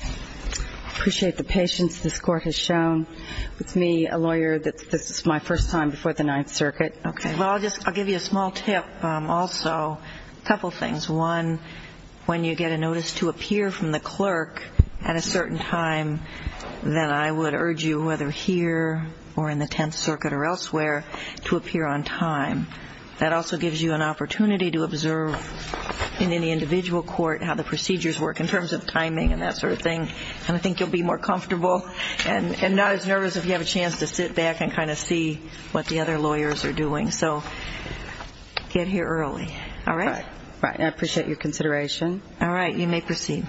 I appreciate the patience this court has shown. It's me, a lawyer, this is my first time before the Ninth Circuit. Well, I'll give you a small tip also. A couple of things. One, when you get a notice to appear from the clerk at a certain time, then I would urge you, whether here or in the Tenth Circuit or elsewhere, to appear on time. That also gives you an opportunity to observe in any individual court how the procedures work in terms of timing and that sort of thing. And I think you'll be more comfortable and not as nervous if you have a chance to sit back and kind of see what the other lawyers are doing. So get here early. All right? All right. I appreciate your consideration. All right. You may proceed.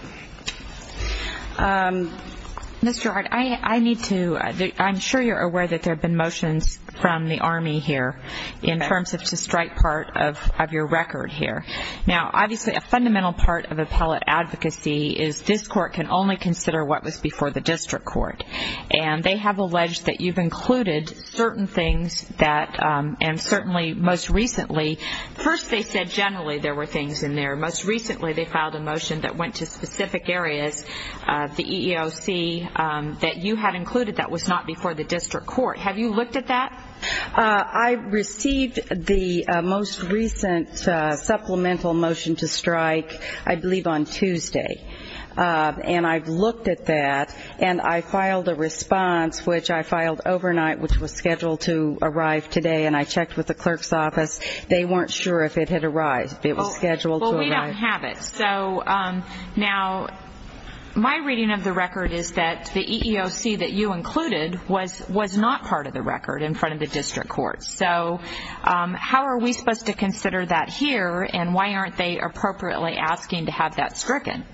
Ms. Gerhardt, I need to – I'm sure you're aware that there have been motions from the Army here in terms of to strike part of your record here. Now, obviously, a fundamental part of appellate advocacy is this court can only consider what was before the district court. And they have alleged that you've included certain things that – and certainly most recently – first, they said generally there were things in there. Most recently, they filed a motion that went to specific areas of the EEOC that you had included that was not before the district court. Have you looked at that? I received the most recent supplemental motion to strike, I believe, on Tuesday. And I've looked at that, and I filed a response, which I filed overnight, which was scheduled to arrive today, and I checked with the clerk's office. They weren't sure if it had arrived. It was scheduled to arrive. Well, we don't have it. So now my reading of the record is that the EEOC that you included was not part of the record in front of the district court. So how are we supposed to consider that here, and why aren't they appropriately asking to have that stricken?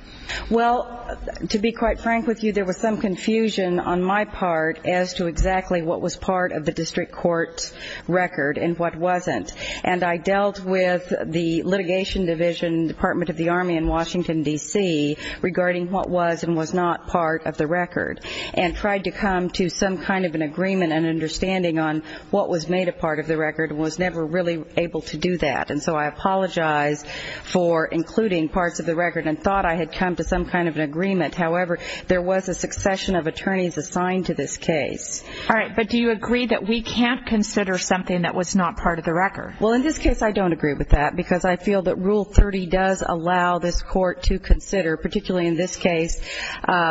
Well, to be quite frank with you, there was some confusion on my part as to exactly what was part of the district court's record and what wasn't. And I dealt with the litigation division, Department of the Army in Washington, D.C., regarding what was and was not part of the record and tried to come to some kind of an agreement and understanding on what was made a part of the record and was never really able to do that. And so I apologize for including parts of the record and thought I had come to some kind of an agreement. However, there was a succession of attorneys assigned to this case. All right, but do you agree that we can't consider something that was not part of the record? Well, in this case, I don't agree with that because I feel that Rule 30 does allow this court to consider, particularly in this case,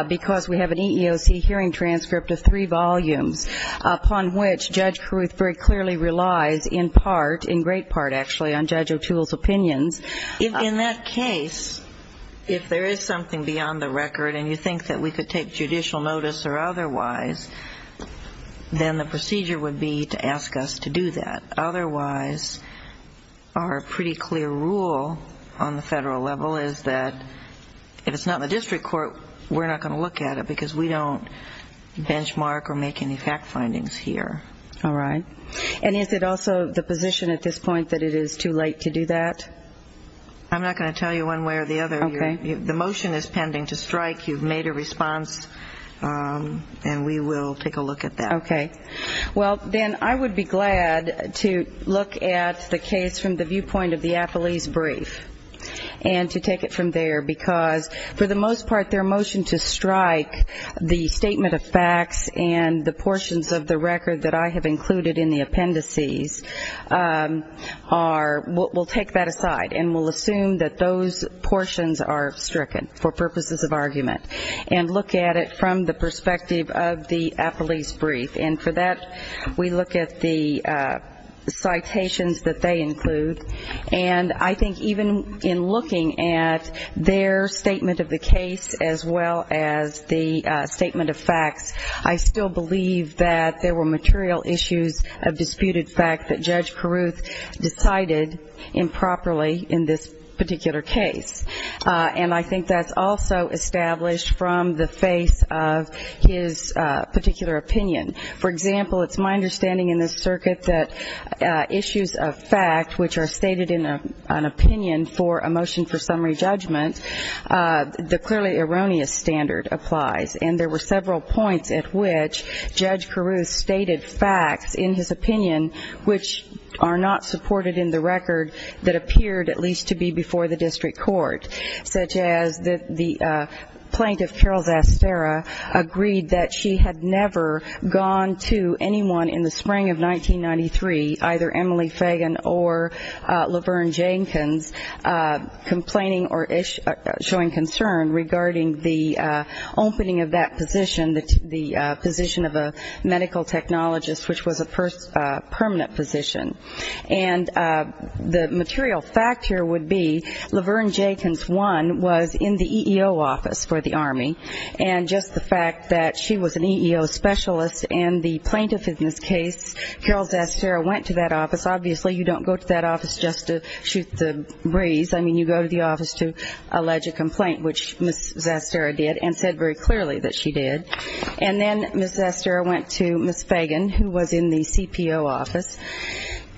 because we have an EEOC hearing transcript of three volumes upon which Judge Caruth very clearly relies in part, in great part actually, on Judge O'Toole's opinions. In that case, if there is something beyond the record and you think that we could take judicial notice or otherwise, then the procedure would be to ask us to do that. Otherwise, our pretty clear rule on the federal level is that if it's not in the district court, we're not going to look at it because we don't benchmark or make any fact findings here. All right. And is it also the position at this point that it is too late to do that? I'm not going to tell you one way or the other. The motion is pending to strike. You've made a response, and we will take a look at that. Okay. Well, then I would be glad to look at the case from the viewpoint of the Applease brief and to take it from there because, for the most part, their motion to strike the statement of facts and the portions of the record that I have included in the appendices are we'll take that aside and we'll assume that those portions are stricken for purposes of argument and look at it from the perspective of the Appalese brief. And for that, we look at the citations that they include. And I think even in looking at their statement of the case as well as the statement of facts, I still believe that there were material issues of disputed fact that Judge Peruth decided improperly in this particular case. And I think that's also established from the face of his particular opinion. For example, it's my understanding in this circuit that issues of fact, which are stated in an opinion for a motion for summary judgment, the clearly erroneous standard applies. And there were several points at which Judge Peruth stated facts in his opinion which are not supported in the record that appeared at least to be before the district court, such as the plaintiff, Carol Zaspera, agreed that she had never gone to anyone in the spring of 1993, either Emily Fagan or Laverne Jenkins, complaining or showing concern regarding the opening of that position, the position of a medical technologist which was a permanent position. And the material fact here would be Laverne Jenkins, one, was in the EEO office for the Army. And just the fact that she was an EEO specialist in the plaintiff in this case, Carol Zaspera went to that office. Obviously, you don't go to that office just to shoot the breeze. I mean, you go to the office to allege a complaint, which Ms. Zaspera did and said very clearly that she did. And then Ms. Zaspera went to Ms. Fagan, who was in the CPO office,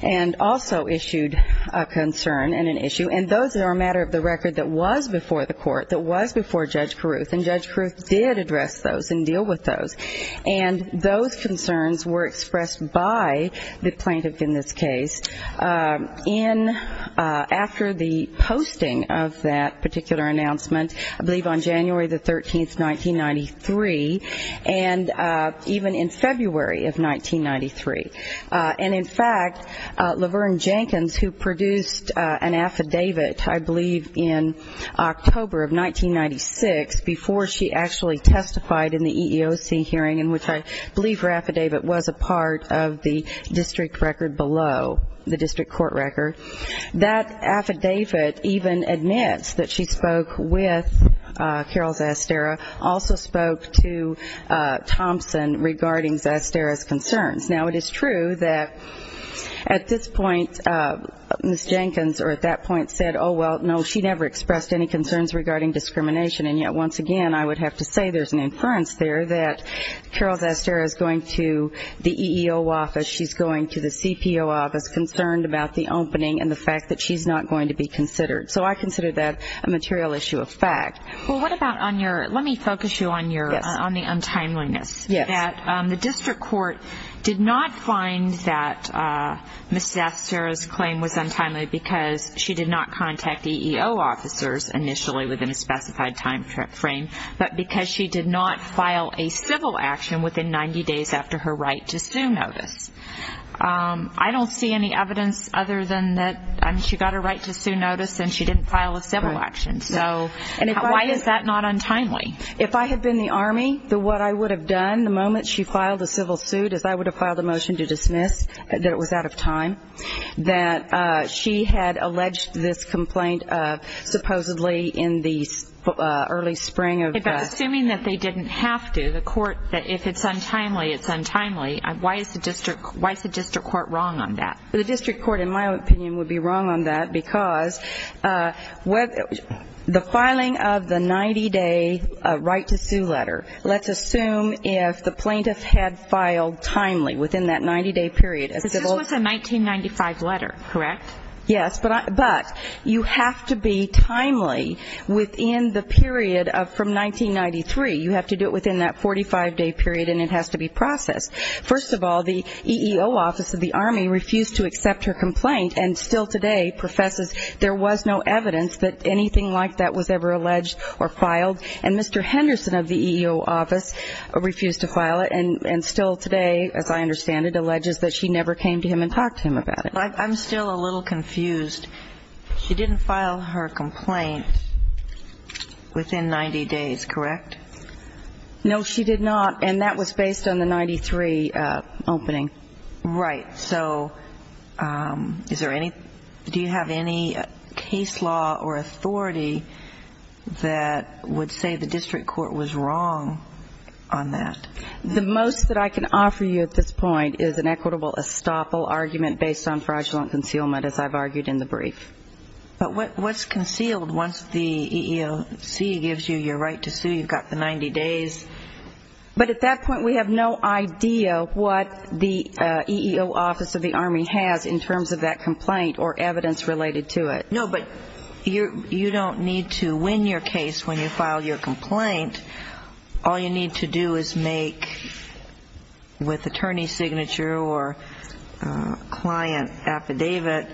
and also issued a concern and an issue. And those are a matter of the record that was before the court, that was before Judge Peruth. And Judge Peruth did address those and deal with those. And those concerns were expressed by the plaintiff in this case. And after the posting of that particular announcement, I believe on January the 13th, 1993, and even in February of 1993. And in fact, Laverne Jenkins, who produced an affidavit, I believe in October of 1996, before she actually testified in the EEOC hearing, in which I believe her affidavit was a part of the district record below, the district court record. That affidavit even admits that she spoke with Carol Zaspera, also spoke to Thompson regarding Zaspera's concerns. Now, it is true that at this point, Ms. Jenkins at that point said, oh, well, no, she never expressed any concerns regarding discrimination. And yet, once again, I would have to say there's an inference there that Carol Zaspera is going to the EEO office, she's going to the CPO office concerned about the opening and the fact that she's not going to be considered. So I consider that a material issue of fact. Well, what about on your, let me focus you on the untimeliness. Yes. That the district court did not find that Ms. Zaspera's claim was untimely because she did not contact EEO officers initially within a specified timeframe, but because she did not file a civil action within 90 days after her right to sue notice. I don't see any evidence other than that she got a right to sue notice and she didn't file a civil action. So why is that not untimely? If I had been the Army, what I would have done the moment she filed a civil suit is I would have filed a motion to dismiss that it was out of time. That she had alleged this complaint of supposedly in the early spring of the... But assuming that they didn't have to, the court, that if it's untimely, it's untimely, why is the district court wrong on that? The district court, in my opinion, would be wrong on that because the filing of the 90-day right to sue letter, let's assume if the plaintiff had filed timely within that 90-day period. This was a 1995 letter, correct? Yes, but you have to be timely within the period from 1993. You have to do it within that 45-day period and it has to be processed. First of all, the EEO office of the Army refused to accept her complaint and still today professes there was no evidence that anything like that was ever alleged or filed. And Mr. Henderson of the EEO office refused to file it and still today, as I understand it, alleges that she never came to him and talked to him about it. I'm still a little confused. She didn't file her complaint within 90 days, correct? No, she did not, and that was based on the 1993 opening. Right. So is there any do you have any case law or authority that would say the district court was wrong on that? The most that I can offer you at this point is an equitable estoppel argument based on fraudulent concealment, as I've argued in the brief. But what's concealed once the EEOC gives you your right to sue? You've got the 90 days. But at that point, we have no idea what the EEO office of the Army has in terms of that complaint or evidence related to it. No, but you don't need to win your case when you file your complaint. All you need to do is make, with attorney's signature or client affidavit,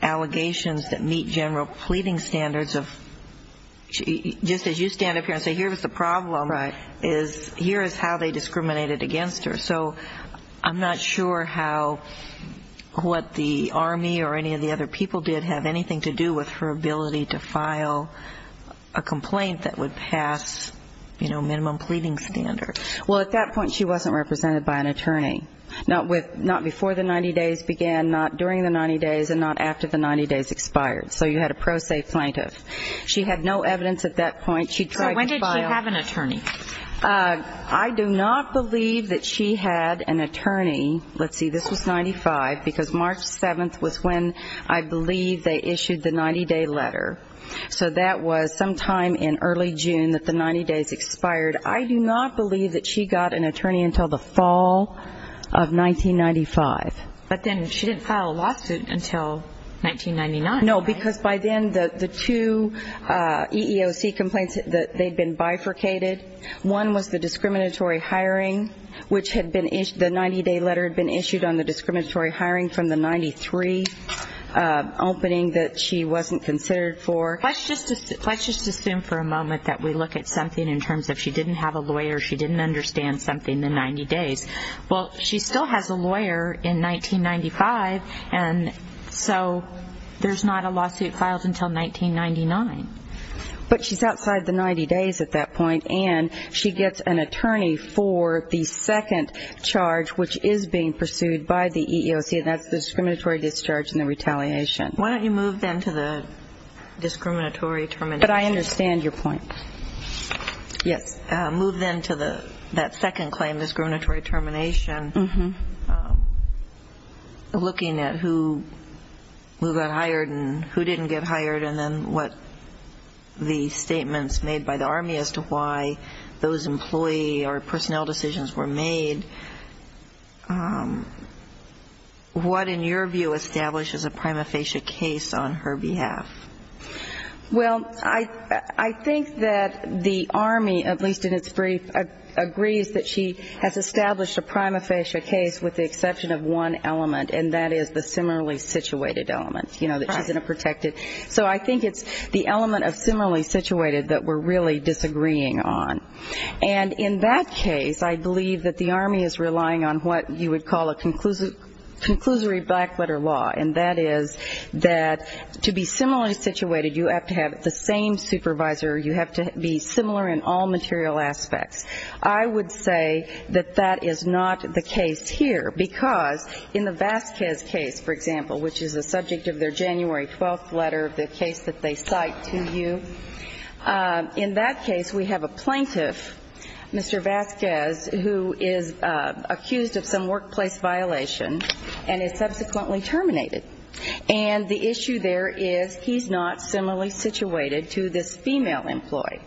allegations that meet general pleading standards of just as you stand up here and say here was the problem, here is how they discriminated against her. So I'm not sure how what the Army or any of the other people did have anything to do with her ability to file a complaint that would pass minimum pleading standards. Well, at that point, she wasn't represented by an attorney. Not before the 90 days began, not during the 90 days, and not after the 90 days expired. So you had a pro se plaintiff. She had no evidence at that point. So when did she have an attorney? I do not believe that she had an attorney. Let's see, this was 95, because March 7th was when I believe they issued the 90-day letter. So that was sometime in early June that the 90 days expired. I do not believe that she got an attorney until the fall of 1995. But then she didn't file a lawsuit until 1999. No, because by then the two EEOC complaints, they'd been bifurcated. One was the discriminatory hiring, which had been issued, the 90-day letter had been issued on the discriminatory hiring from the 93 opening that she wasn't considered for. Let's just assume for a moment that we look at something in terms of she didn't have a lawyer, she didn't understand something in the 90 days. Well, she still has a lawyer in 1995, and so there's not a lawsuit filed until 1999. But she's outside the 90 days at that point, and she gets an attorney for the second charge, which is being pursued by the EEOC, and that's the discriminatory discharge and the retaliation. Why don't you move then to the discriminatory termination? But I understand your point. Yes. Move then to that second claim, discriminatory termination, looking at who got hired and who didn't get hired, and then what the statements made by the Army as to why those employee or personnel decisions were made. What, in your view, establishes a prima facie case on her behalf? Well, I think that the Army, at least in its brief, agrees that she has established a prima facie case with the exception of one element, and that is the similarly situated element, you know, that she's in a protected. So I think it's the element of similarly situated that we're really disagreeing on. And in that case, I believe that the Army is relying on what you would call a conclusory black letter law, and that is that to be similarly situated, you have to have the same supervisor. You have to be similar in all material aspects. I would say that that is not the case here, because in the Vasquez case, for example, which is the subject of their January 12th letter, the case that they cite to you, in that case we have a plaintiff, Mr. Vasquez, who is accused of some workplace violation and is subsequently terminated. And the issue there is he's not similarly situated to this female employee.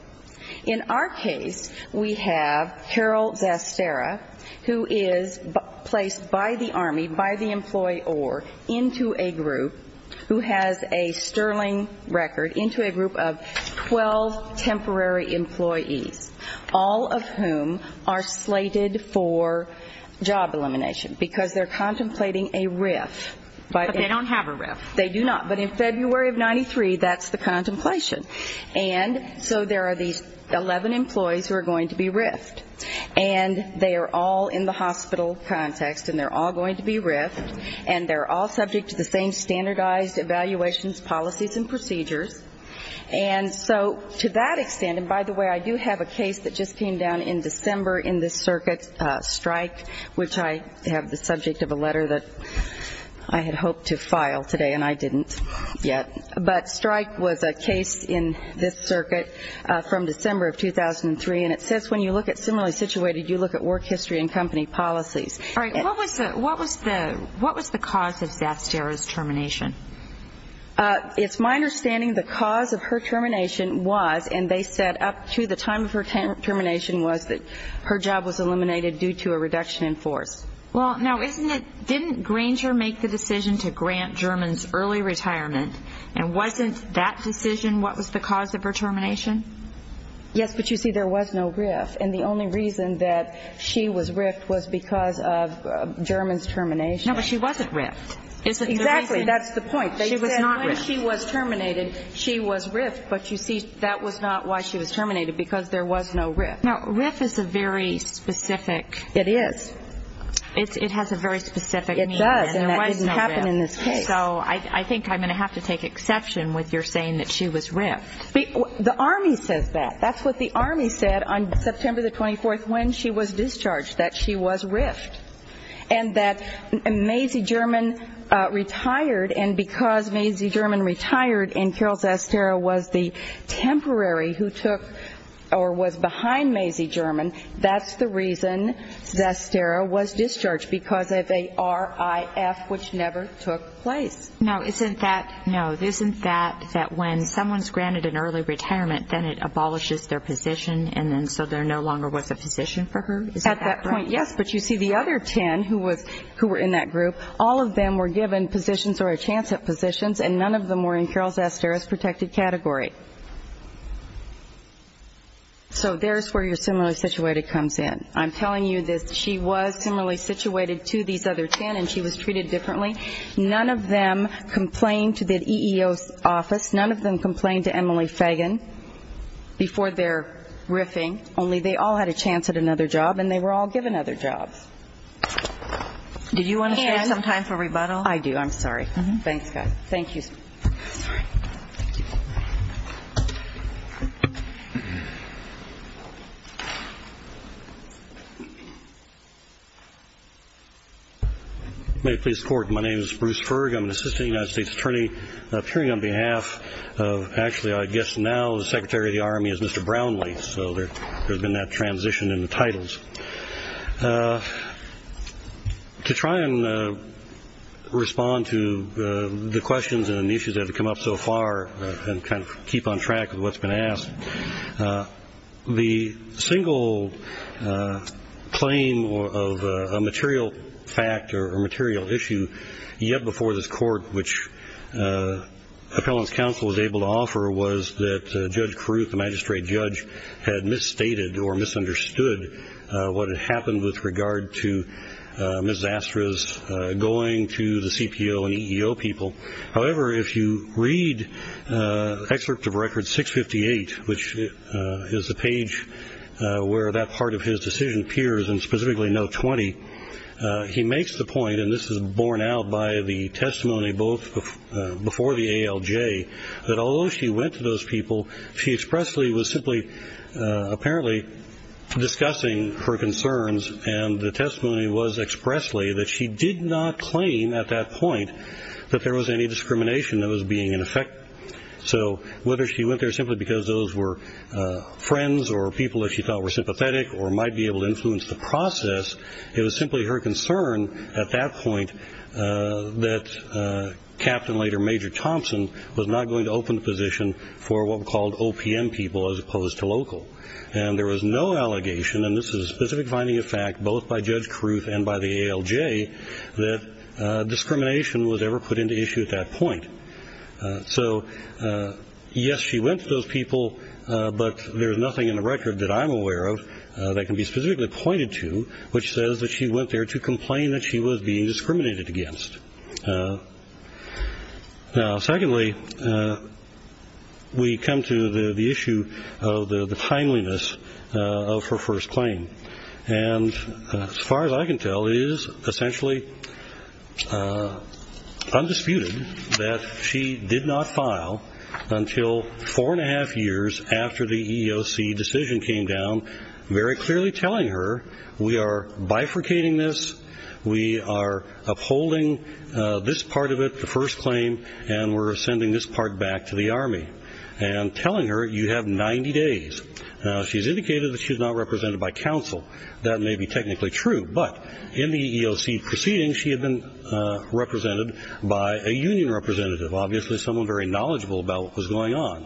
In our case, we have Carol Zastera, who is placed by the Army, by the employee or, into a group who has a Sterling record, into a group of 12 temporary employees, all of whom are slated for job elimination, because they're contemplating a RIF. But they don't have a RIF. They do not. But in February of 93, that's the contemplation. And so there are these 11 employees who are going to be RIFed. And they are all in the hospital context, and they're all going to be RIFed, and they're all subject to the same standardized evaluations, policies, and procedures. And so to that extent, and by the way, I do have a case that just came down in December in this circuit, Strike, which I have the subject of a letter that I had hoped to file today, and I didn't yet. But Strike was a case in this circuit from December of 2003, and it says when you look at similarly situated, you look at work history and company policies. All right. What was the cause of Zastera's termination? It's my understanding the cause of her termination was, and they said up to the time of her termination was that her job was eliminated due to a reduction in force. Well, now, didn't Granger make the decision to grant Germans early retirement? And wasn't that decision what was the cause of her termination? Yes, but you see, there was no RIF. And the only reason that she was RIFed was because of Germans termination. No, but she wasn't RIFed. Exactly. That's the point. She was not RIFed. They said when she was terminated, she was RIFed. But you see, that was not why she was terminated, because there was no RIF. Now, RIF is a very specific. It is. It has a very specific meaning. It does, and that didn't happen in this case. So I think I'm going to have to take exception with your saying that she was RIFed. The Army says that. That's what the Army said on September the 24th when she was discharged, that she was RIFed. And that Mazie German retired, and because Mazie German retired and Carol Zastero was the temporary who took or was behind Mazie German, that's the reason Zastero was discharged, because of a RIF, which never took place. Now, isn't that, no, isn't that that when someone's granted an early retirement, then it abolishes their position, and then so there no longer was a position for her? Is that correct? At that point, yes. But you see, the other 10 who were in that group, all of them were given positions or a chance at positions, and none of them were in Carol Zastero's protected category. So there's where your similarly situated comes in. I'm telling you that she was similarly situated to these other 10, and she was treated differently. None of them complained to the EEO's office. None of them complained to Emily Fagan before their RIFing. Only they all had a chance at another job, and they were all given other jobs. Did you want to save some time for rebuttal? I do. I'm sorry. Thanks, guys. Thank you. Thank you. May it please the Court, my name is Bruce Ferg. I'm an Assistant United States Attorney appearing on behalf of actually I guess now the Secretary of the Army is Mr. Brownlee. So there's been that transition in the titles. To try and respond to the questions and the issues that have come up so far and kind of keep on track with what's been asked, the single claim of a material fact or a material issue yet before this Court, which Appellant's Counsel was able to offer, was that Judge Caruth, the magistrate judge, had misstated or misunderstood what had happened with regard to Ms. Zastra's going to the CPO and EEO people. However, if you read excerpt of Record 658, which is the page where that part of his decision appears and specifically note 20, he makes the point, and this is borne out by the testimony both before the ALJ, that although she went to those people, she expressly was simply apparently discussing her concerns and the testimony was expressly that she did not claim at that point that there was any discrimination that was being in effect. So whether she went there simply because those were friends or people that she thought were sympathetic or might be able to influence the process, it was simply her concern at that point that Captain, later Major Thompson, was not going to open the position for what were called OPM people as opposed to local. And there was no allegation, and this is a specific finding of fact both by Judge Caruth and by the ALJ, that discrimination was ever put into issue at that point. So yes, she went to those people, but there's nothing in the record that I'm aware of that can be specifically pointed to which says that she went there to complain that she was being discriminated against. Now, secondly, we come to the issue of the timeliness of her first claim. And as far as I can tell, it is essentially undisputed that she did not file until four and a half years after the EEOC decision came down, very clearly telling her, we are bifurcating this, we are upholding this part of it, the first claim, and we're sending this part back to the Army, and telling her you have 90 days. Now, she's indicated that she's not represented by counsel. That may be technically true, but in the EEOC proceedings, she had been represented by a union representative, obviously someone very knowledgeable about what was going on.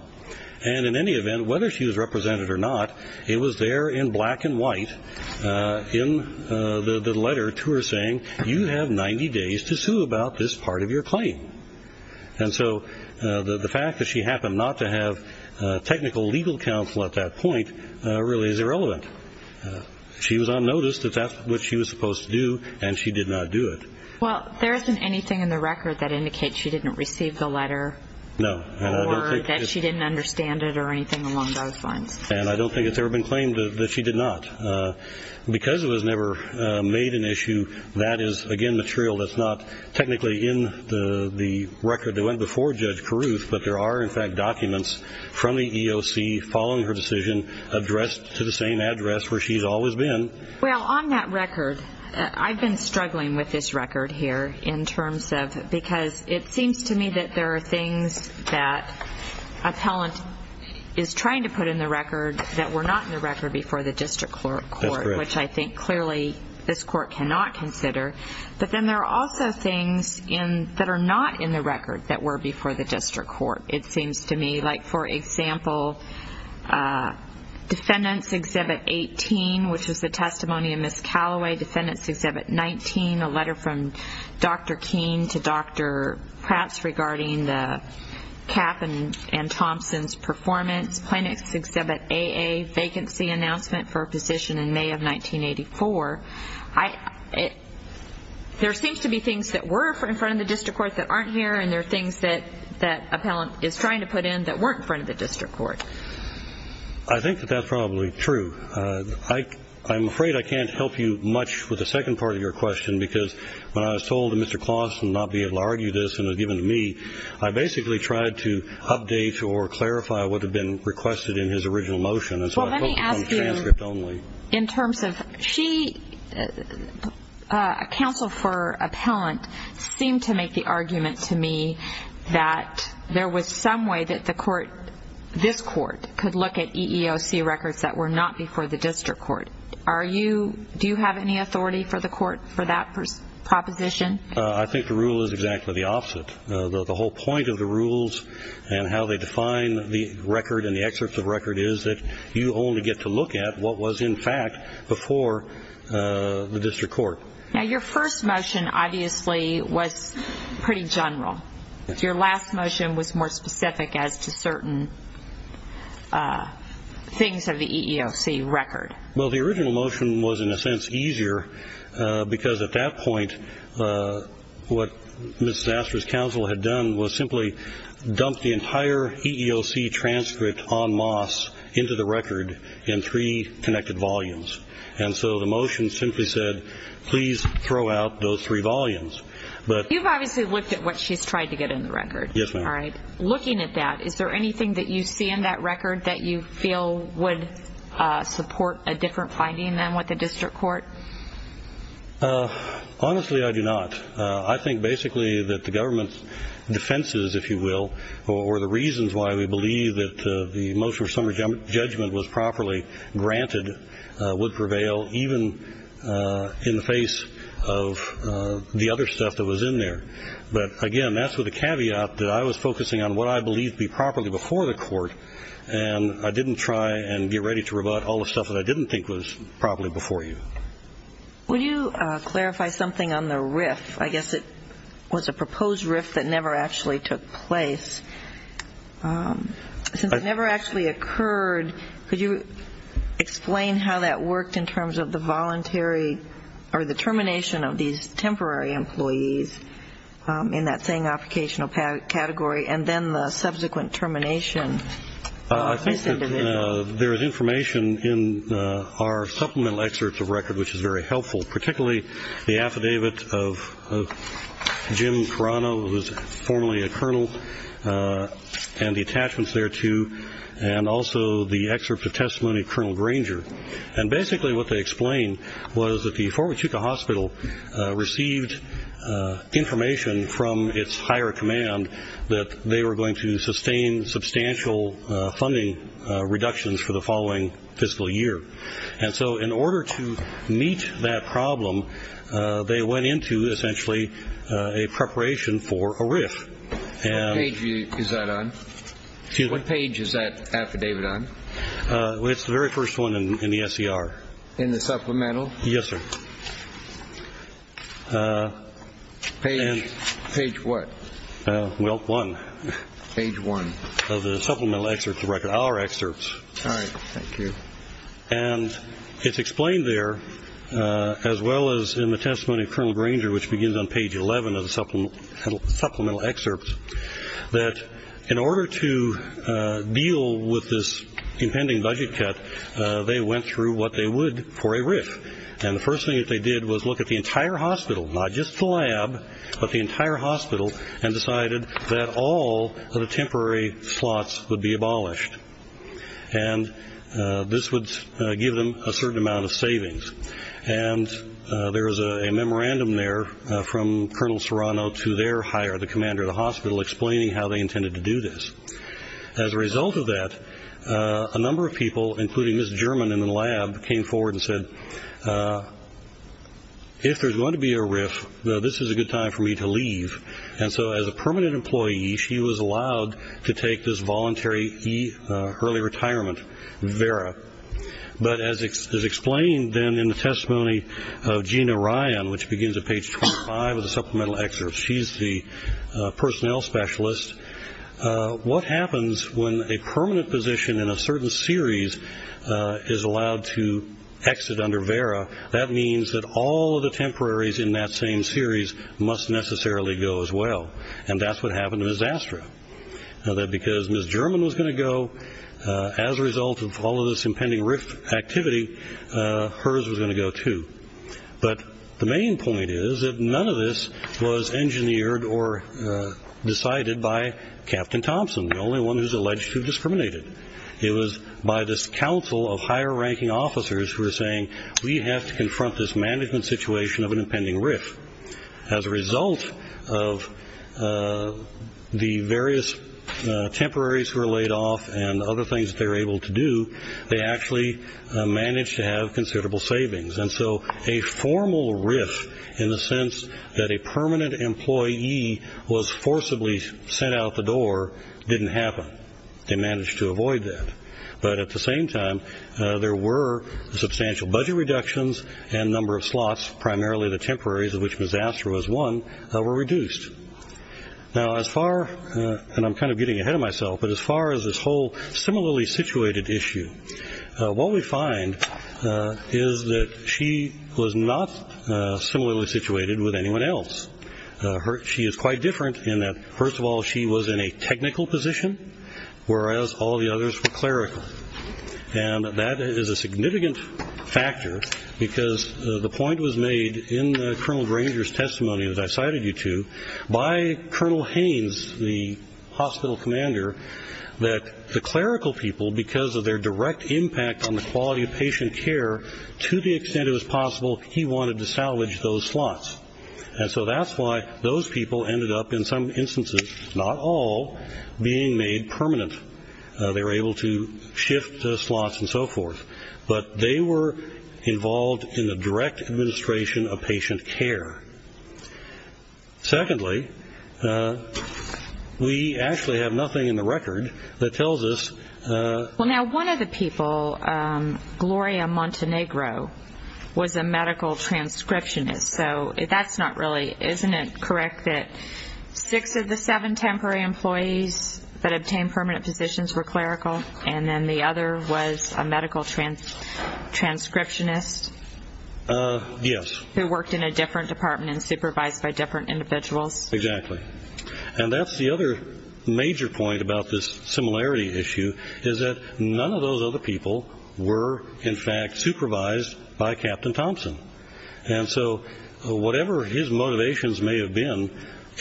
And in any event, whether she was represented or not, it was there in black and white in the letter to her saying, you have 90 days to sue about this part of your claim. And so the fact that she happened not to have technical legal counsel at that point really is irrelevant. She was on notice that that's what she was supposed to do, and she did not do it. Well, there isn't anything in the record that indicates she didn't receive the letter. No. Or that she didn't understand it or anything along those lines. And I don't think it's ever been claimed that she did not. Because it was never made an issue, that is, again, material that's not technically in the record that went before Judge Carruth, but there are, in fact, documents from the EEOC following her decision addressed to the same address where she's always been. Well, on that record, I've been struggling with this record here in terms of because it seems to me that there are things that appellant is trying to put in the record that were not in the record before the district court, which I think clearly this court cannot consider. But then there are also things that are not in the record that were before the district court, it seems to me. Like, for example, Defendants Exhibit 18, which was the testimony of Ms. Callaway. Defendants Exhibit 19, a letter from Dr. Keene to Dr. Kratz regarding the Kapp and Thompson's performance. Plaintiffs Exhibit AA, vacancy announcement for a position in May of 1984. There seems to be things that were in front of the district court that aren't here, and there are things that appellant is trying to put in that weren't in front of the district court. I think that that's probably true. I'm afraid I can't help you much with the second part of your question because when I was told that Mr. Claus would not be able to argue this and it was given to me, I basically tried to update or clarify what had been requested in his original motion. Well, let me ask you in terms of she, a counsel for appellant, seemed to make the argument to me that there was some way that the court, this court, could look at EEOC records that were not before the district court. Are you, do you have any authority for the court for that proposition? I think the rule is exactly the opposite. The whole point of the rules and how they define the record and the excerpts of record is that you only get to look at what was in fact before the district court. Now, your first motion obviously was pretty general. Your last motion was more specific as to certain things of the EEOC record. Well, the original motion was in a sense easier because at that point, what Ms. Astor's counsel had done was simply dump the entire EEOC transcript on Moss into the record in three connected volumes. And so the motion simply said, please throw out those three volumes. You've obviously looked at what she's tried to get in the record. Yes, ma'am. Looking at that, is there anything that you see in that record that you feel would support a different finding than what the district court? Honestly, I do not. I think basically that the government's defenses, if you will, or the reasons why we believe that the motion of summary judgment was properly granted would prevail even in the face of the other stuff that was in there. But again, that's with a caveat that I was focusing on what I believed to be properly before the court, and I didn't try and get ready to rebut all the stuff that I didn't think was properly before you. Would you clarify something on the RIF? I guess it was a proposed RIF that never actually took place. Since it never actually occurred, could you explain how that worked in terms of the voluntary or the termination of these temporary employees in that same application category and then the subsequent termination of this individual? I think that there is information in our supplemental excerpts of record which is very helpful, particularly the affidavit of Jim Carano, who was formerly a colonel, and the attachments thereto, and also the excerpt of testimony of Colonel Granger. And basically what they explain was that the Fort Huachuca Hospital received information from its higher command that they were going to sustain substantial funding reductions for the following fiscal year. And so in order to meet that problem, they went into essentially a preparation for a RIF. What page is that affidavit on? It's the very first one in the SCR. In the supplemental? Yes, sir. Page what? Well, one. Page one. Of the supplemental excerpts of record, our excerpts. All right. Thank you. And it's explained there, as well as in the testimony of Colonel Granger, which begins on page 11 of the supplemental excerpts, that in order to deal with this impending budget cut, they went through what they would for a RIF. And the first thing that they did was look at the entire hospital, not just the lab, but the entire hospital, and decided that all of the temporary slots would be abolished. And this would give them a certain amount of savings. And there is a memorandum there from Colonel Serrano to their higher, the commander of the hospital, explaining how they intended to do this. As a result of that, a number of people, including Ms. German in the lab, came forward and said, if there's going to be a RIF, this is a good time for me to leave. And so as a permanent employee, she was allowed to take this voluntary early retirement, vera. But as explained then in the testimony of Gina Ryan, which begins at page 25 of the supplemental excerpts, she's the personnel specialist, what happens when a permanent position in a certain series is allowed to exit under vera, that means that all of the temporaries in that same series must necessarily go as well. And that's what happened to Ms. Astra. Because Ms. German was going to go as a result of all of this impending RIF activity, hers was going to go too. But the main point is that none of this was engineered or decided by Captain Thompson, the only one who's alleged to have discriminated. It was by this council of higher ranking officers who were saying, we have to confront this management situation of an impending RIF. As a result of the various temporaries who were laid off and other things they were able to do, they actually managed to have considerable savings. And so a formal RIF in the sense that a permanent employee was forcibly sent out the door didn't happen. They managed to avoid that. But at the same time, there were substantial budget reductions and number of slots, primarily the temporaries of which Ms. Astra was one, were reduced. Now as far, and I'm kind of getting ahead of myself, but as far as this whole similarly situated issue, what we find is that she was not similarly situated with anyone else. She is quite different in that, first of all, she was in a technical position, whereas all the others were clerical. And that is a significant factor because the point was made in Colonel Granger's testimony, as I cited you to, by Colonel Haynes, the hospital commander, that the clerical people, because of their direct impact on the quality of patient care to the extent it was possible, he wanted to salvage those slots. And so that's why those people ended up in some instances, not all, being made permanent. They were able to shift the slots and so forth. But they were involved in the direct administration of patient care. Secondly, we actually have nothing in the record that tells us. Well, now one of the people, Gloria Montenegro, was a medical transcriptionist. So that's not really, isn't it correct that six of the seven temporary employees that obtained permanent positions were clerical and then the other was a medical transcriptionist? Yes. Who worked in a different department and supervised by different individuals? Exactly. And that's the other major point about this similarity issue, is that none of those other people were, in fact, supervised by Captain Thompson. And so whatever his motivations may have been,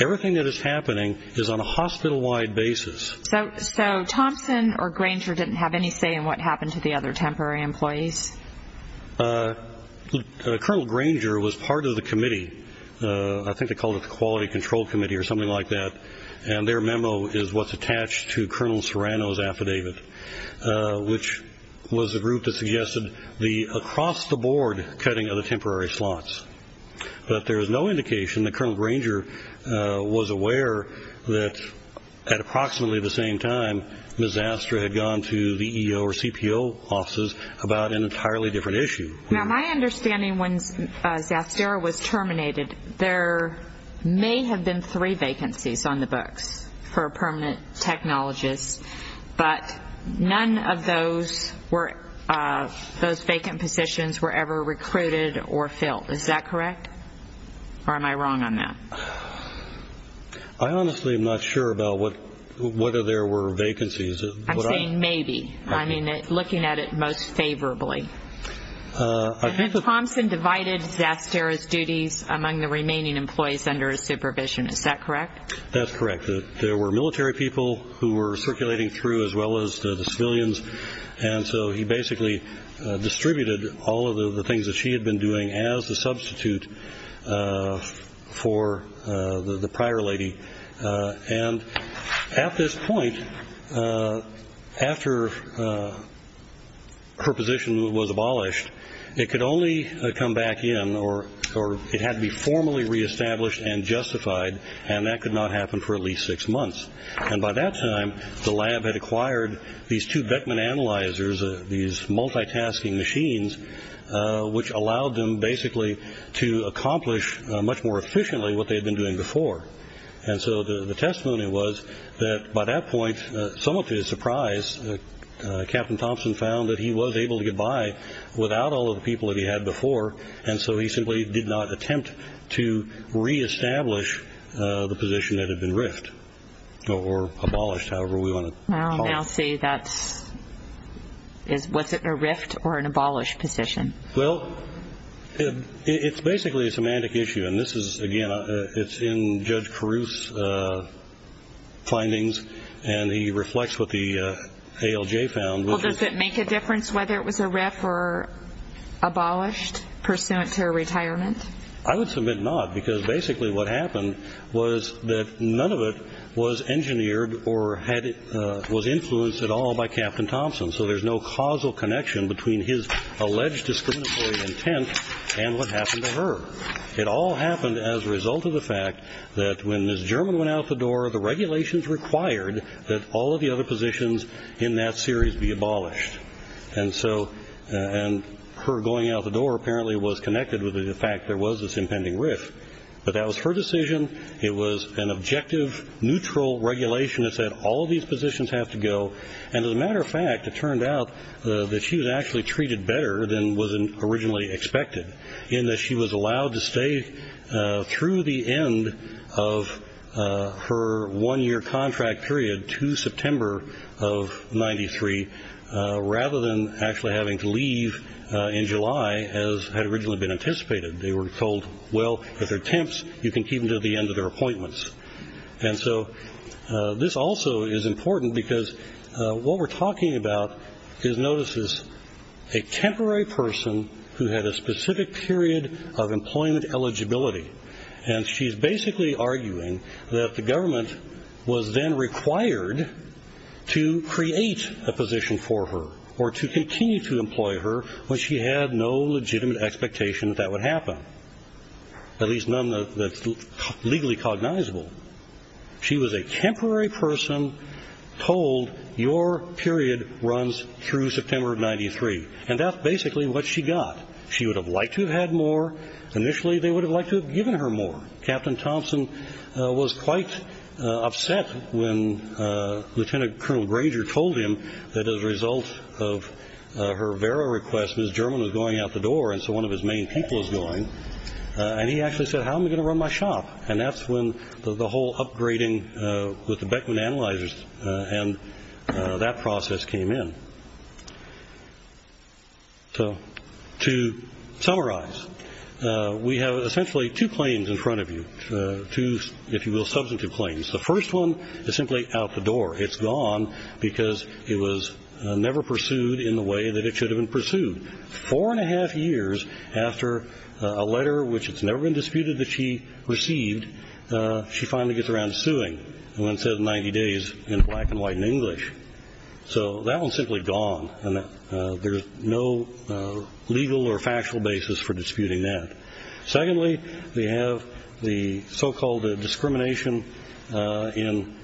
everything that is happening is on a hospital-wide basis. So Thompson or Granger didn't have any say in what happened to the other temporary employees? Colonel Granger was part of the committee. I think they called it the Quality Control Committee or something like that, and their memo is what's attached to Colonel Serrano's affidavit, which was a group that suggested the across-the-board cutting of the temporary slots. But there is no indication that Colonel Granger was aware that at approximately the same time, Ms. Zastra had gone to the EO or CPO offices about an entirely different issue. Now, my understanding, when Zastra was terminated, there may have been three vacancies on the books for permanent technologists, but none of those vacant positions were ever recruited or filled. Is that correct, or am I wrong on that? I honestly am not sure about whether there were vacancies. I'm saying maybe. I mean, looking at it most favorably. Thompson divided Zastra's duties among the remaining employees under his supervision. Is that correct? That's correct. There were military people who were circulating through as well as the civilians, and so he basically distributed all of the things that she had been doing as a substitute for the prior lady. And at this point, after her position was abolished, it could only come back in, or it had to be formally reestablished and justified, and that could not happen for at least six months. And by that time, the lab had acquired these two Beckman analyzers, these multitasking machines, which allowed them basically to accomplish much more efficiently what they had been doing before. And so the testimony was that by that point, somewhat to his surprise, Captain Thompson found that he was able to get by without all of the people that he had before, and so he simply did not attempt to reestablish the position that had been riffed or abolished, however we want to call it. Now say that's – was it a riffed or an abolished position? Well, it's basically a semantic issue, and this is, again, it's in Judge Carew's findings, and he reflects what the ALJ found. Well, does it make a difference whether it was a riff or abolished pursuant to her retirement? I would submit not, because basically what happened was that none of it was engineered or was influenced at all by Captain Thompson, so there's no causal connection between his alleged discriminatory intent and what happened to her. It all happened as a result of the fact that when Ms. German went out the door, the regulations required that all of the other positions in that series be abolished, and so her going out the door apparently was connected with the fact there was this impending riff. But that was her decision. It was an objective, neutral regulation that said all of these positions have to go, and as a matter of fact, it turned out that she was actually treated better than was originally expected in that she was allowed to stay through the end of her one-year contract period to September of 1993 rather than actually having to leave in July as had originally been anticipated. They were told, well, at their temps, you can keep them until the end of their appointments. And so this also is important because what we're talking about is notices. A temporary person who had a specific period of employment eligibility, and she's basically arguing that the government was then required to create a position for her or to continue to employ her when she had no legitimate expectation that that would happen, at least none that's legally cognizable. She was a temporary person told your period runs through September of 1993, and that's basically what she got. She would have liked to have had more. Initially, they would have liked to have given her more. Captain Thompson was quite upset when Lieutenant Colonel Granger told him that as a result of her Vera request, Ms. German was going out the door, and so one of his main people was going, and he actually said, how am I going to run my shop? And that's when the whole upgrading with the Beckman analyzers and that process came in. So to summarize, we have essentially two claims in front of you, two, if you will, substantive claims. The first one is simply out the door. It's gone because it was never pursued in the way that it should have been pursued. Four and a half years after a letter, which has never been disputed, that she received, she finally gets around to suing. And one says 90 days in black and white and English. So that one's simply gone, and there's no legal or factual basis for disputing that. Secondly, we have the so-called discrimination in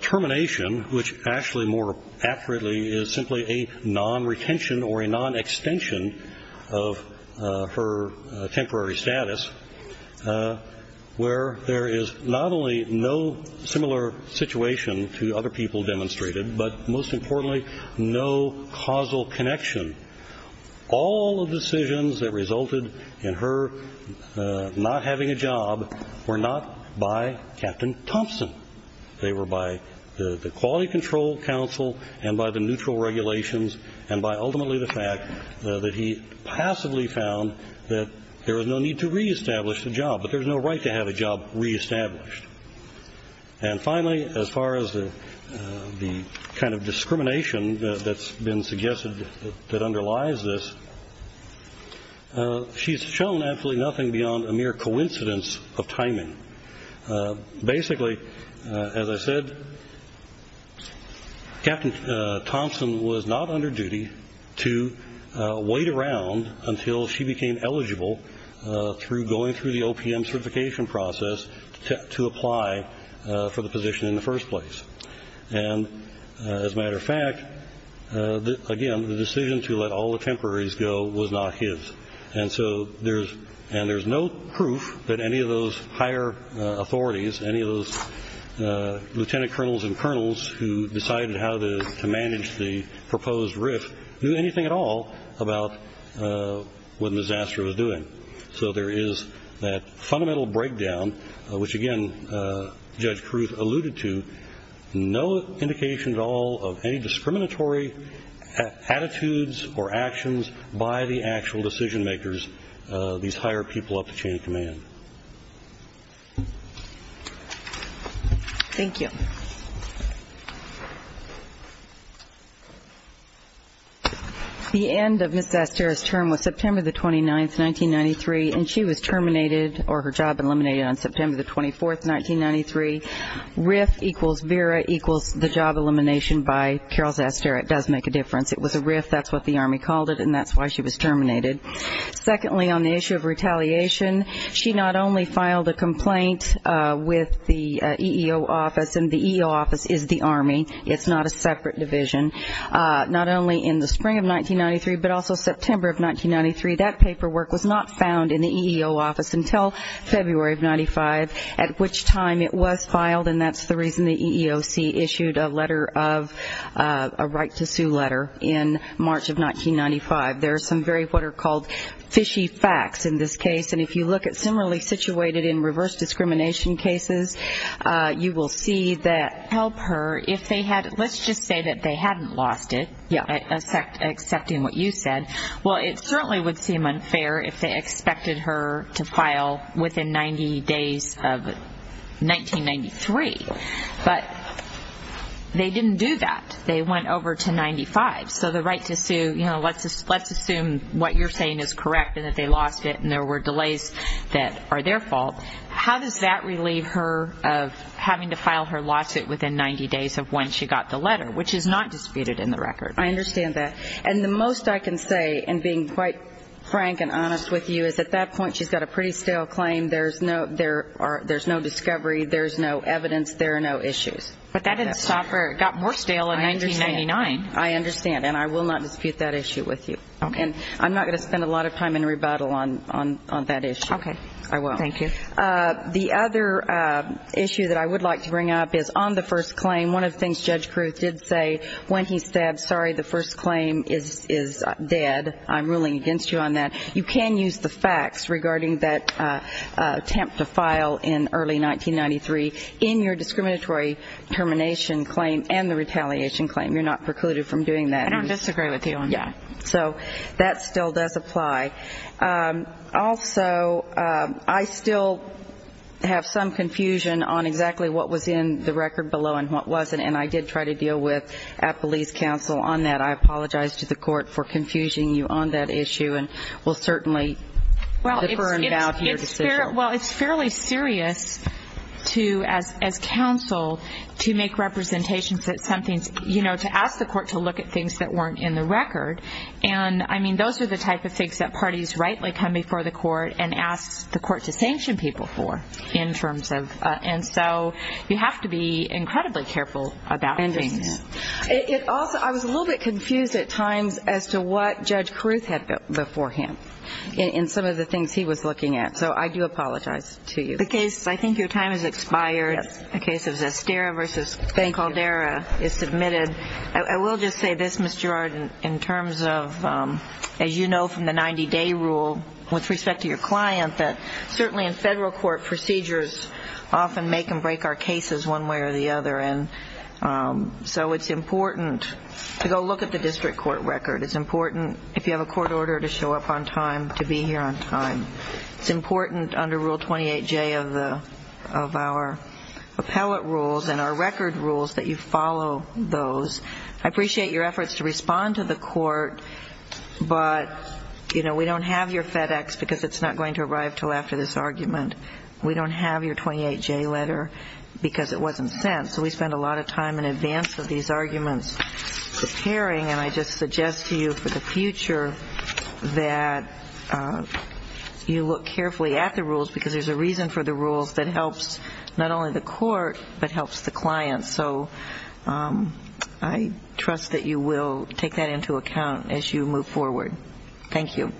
termination, which actually more accurately is simply a non-retention or a non-extension of her temporary status, where there is not only no similar situation to other people demonstrated, but most importantly, no causal connection. All of the decisions that resulted in her not having a job were not by Captain Thompson. They were by the Quality Control Council and by the neutral regulations and by ultimately the fact that he passively found that there was no need to reestablish the job, but there's no right to have a job reestablished. And finally, as far as the kind of discrimination that's been suggested that underlies this, she's shown absolutely nothing beyond a mere coincidence of timing. Basically, as I said, Captain Thompson was not under duty to wait around until she became eligible through going through the OPM certification process to apply for the position in the first place. And as a matter of fact, again, the decision to let all the temporaries go was not his. And so there's no proof that any of those higher authorities, any of those lieutenant colonels and colonels who decided how to manage the proposed RIF, knew anything at all about what the disaster was doing. So there is that fundamental breakdown, which, again, Judge Kruth alluded to, no indication at all of any discriminatory attitudes or actions by the actual decision makers, these higher people up at chain of command. Thank you. The end of Ms. Zastero's term was September the 29th, 1993, and she was terminated or her job eliminated on September the 24th, 1993. RIF equals Vera equals the job elimination by Carol Zastero. It does make a difference. It was a RIF. That's what the Army called it, and that's why she was terminated. Secondly, on the issue of retaliation, she not only filed a complaint with the EEO office, and the EEO office is the Army. It's not a separate division. Not only in the spring of 1993, but also September of 1993, that paperwork was not found in the EEO office until February of 1995, at which time it was filed, and that's the reason the EEOC issued a letter of a right to sue letter in March of 1995. There are some very what are called fishy facts in this case, and if you look at similarly situated in reverse discrimination cases, you will see that helper, if they had let's just say that they hadn't lost it, accepting what you said, well, it certainly would seem unfair if they expected her to file within 90 days of 1993, but they didn't do that. They went over to 95. So the right to sue, you know, let's assume what you're saying is correct and that they lost it and there were delays that are their fault. How does that relieve her of having to file her lawsuit within 90 days of when she got the letter, which is not disputed in the record? I understand that. And the most I can say, and being quite frank and honest with you, is at that point she's got a pretty stale claim. There's no discovery. There's no evidence. There are no issues. But that didn't stop her. It got more stale in 1999. I understand, and I will not dispute that issue with you. Okay. And I'm not going to spend a lot of time in rebuttal on that issue. Okay. I won't. Thank you. The other issue that I would like to bring up is on the first claim, one of the things Judge Kruth did say when he said, sorry, the first claim is dead. I'm ruling against you on that. You can use the facts regarding that attempt to file in early 1993 in your discriminatory termination claim and the retaliation claim. You're not precluded from doing that. I don't disagree with you on that. Yeah. So that still does apply. Also, I still have some confusion on exactly what was in the record below and what wasn't, and I did try to deal with, at police counsel, on that. I apologize to the court for confusing you on that issue and will certainly defer and vow to your decision. Well, it's fairly serious to, as counsel, to make representations that something's, you know, to ask the court to look at things that weren't in the record. And, I mean, those are the type of things that parties rightly come before the court and ask the court to sanction people for in terms of. And so you have to be incredibly careful about things. It also, I was a little bit confused at times as to what Judge Kruth had before him in some of the things he was looking at. So I do apologize to you. The case, I think your time has expired. Yes. The case of Zestera v. Caldera is submitted. I will just say this, Ms. Gerard, in terms of, as you know from the 90-day rule with respect to your client, that certainly in federal court procedures often make and break our cases one way or the other. And so it's important to go look at the district court record. It's important, if you have a court order, to show up on time, to be here on time. It's important under Rule 28J of our appellate rules and our record rules that you follow those. I appreciate your efforts to respond to the court, but, you know, we don't have your FedEx because it's not going to arrive until after this argument. We don't have your 28J letter because it wasn't sent. So we spend a lot of time in advance of these arguments preparing, and I just suggest to you for the future that you look carefully at the rules because there's a reason for the rules that helps not only the court but helps the client. So I trust that you will take that into account as you move forward. Thank you.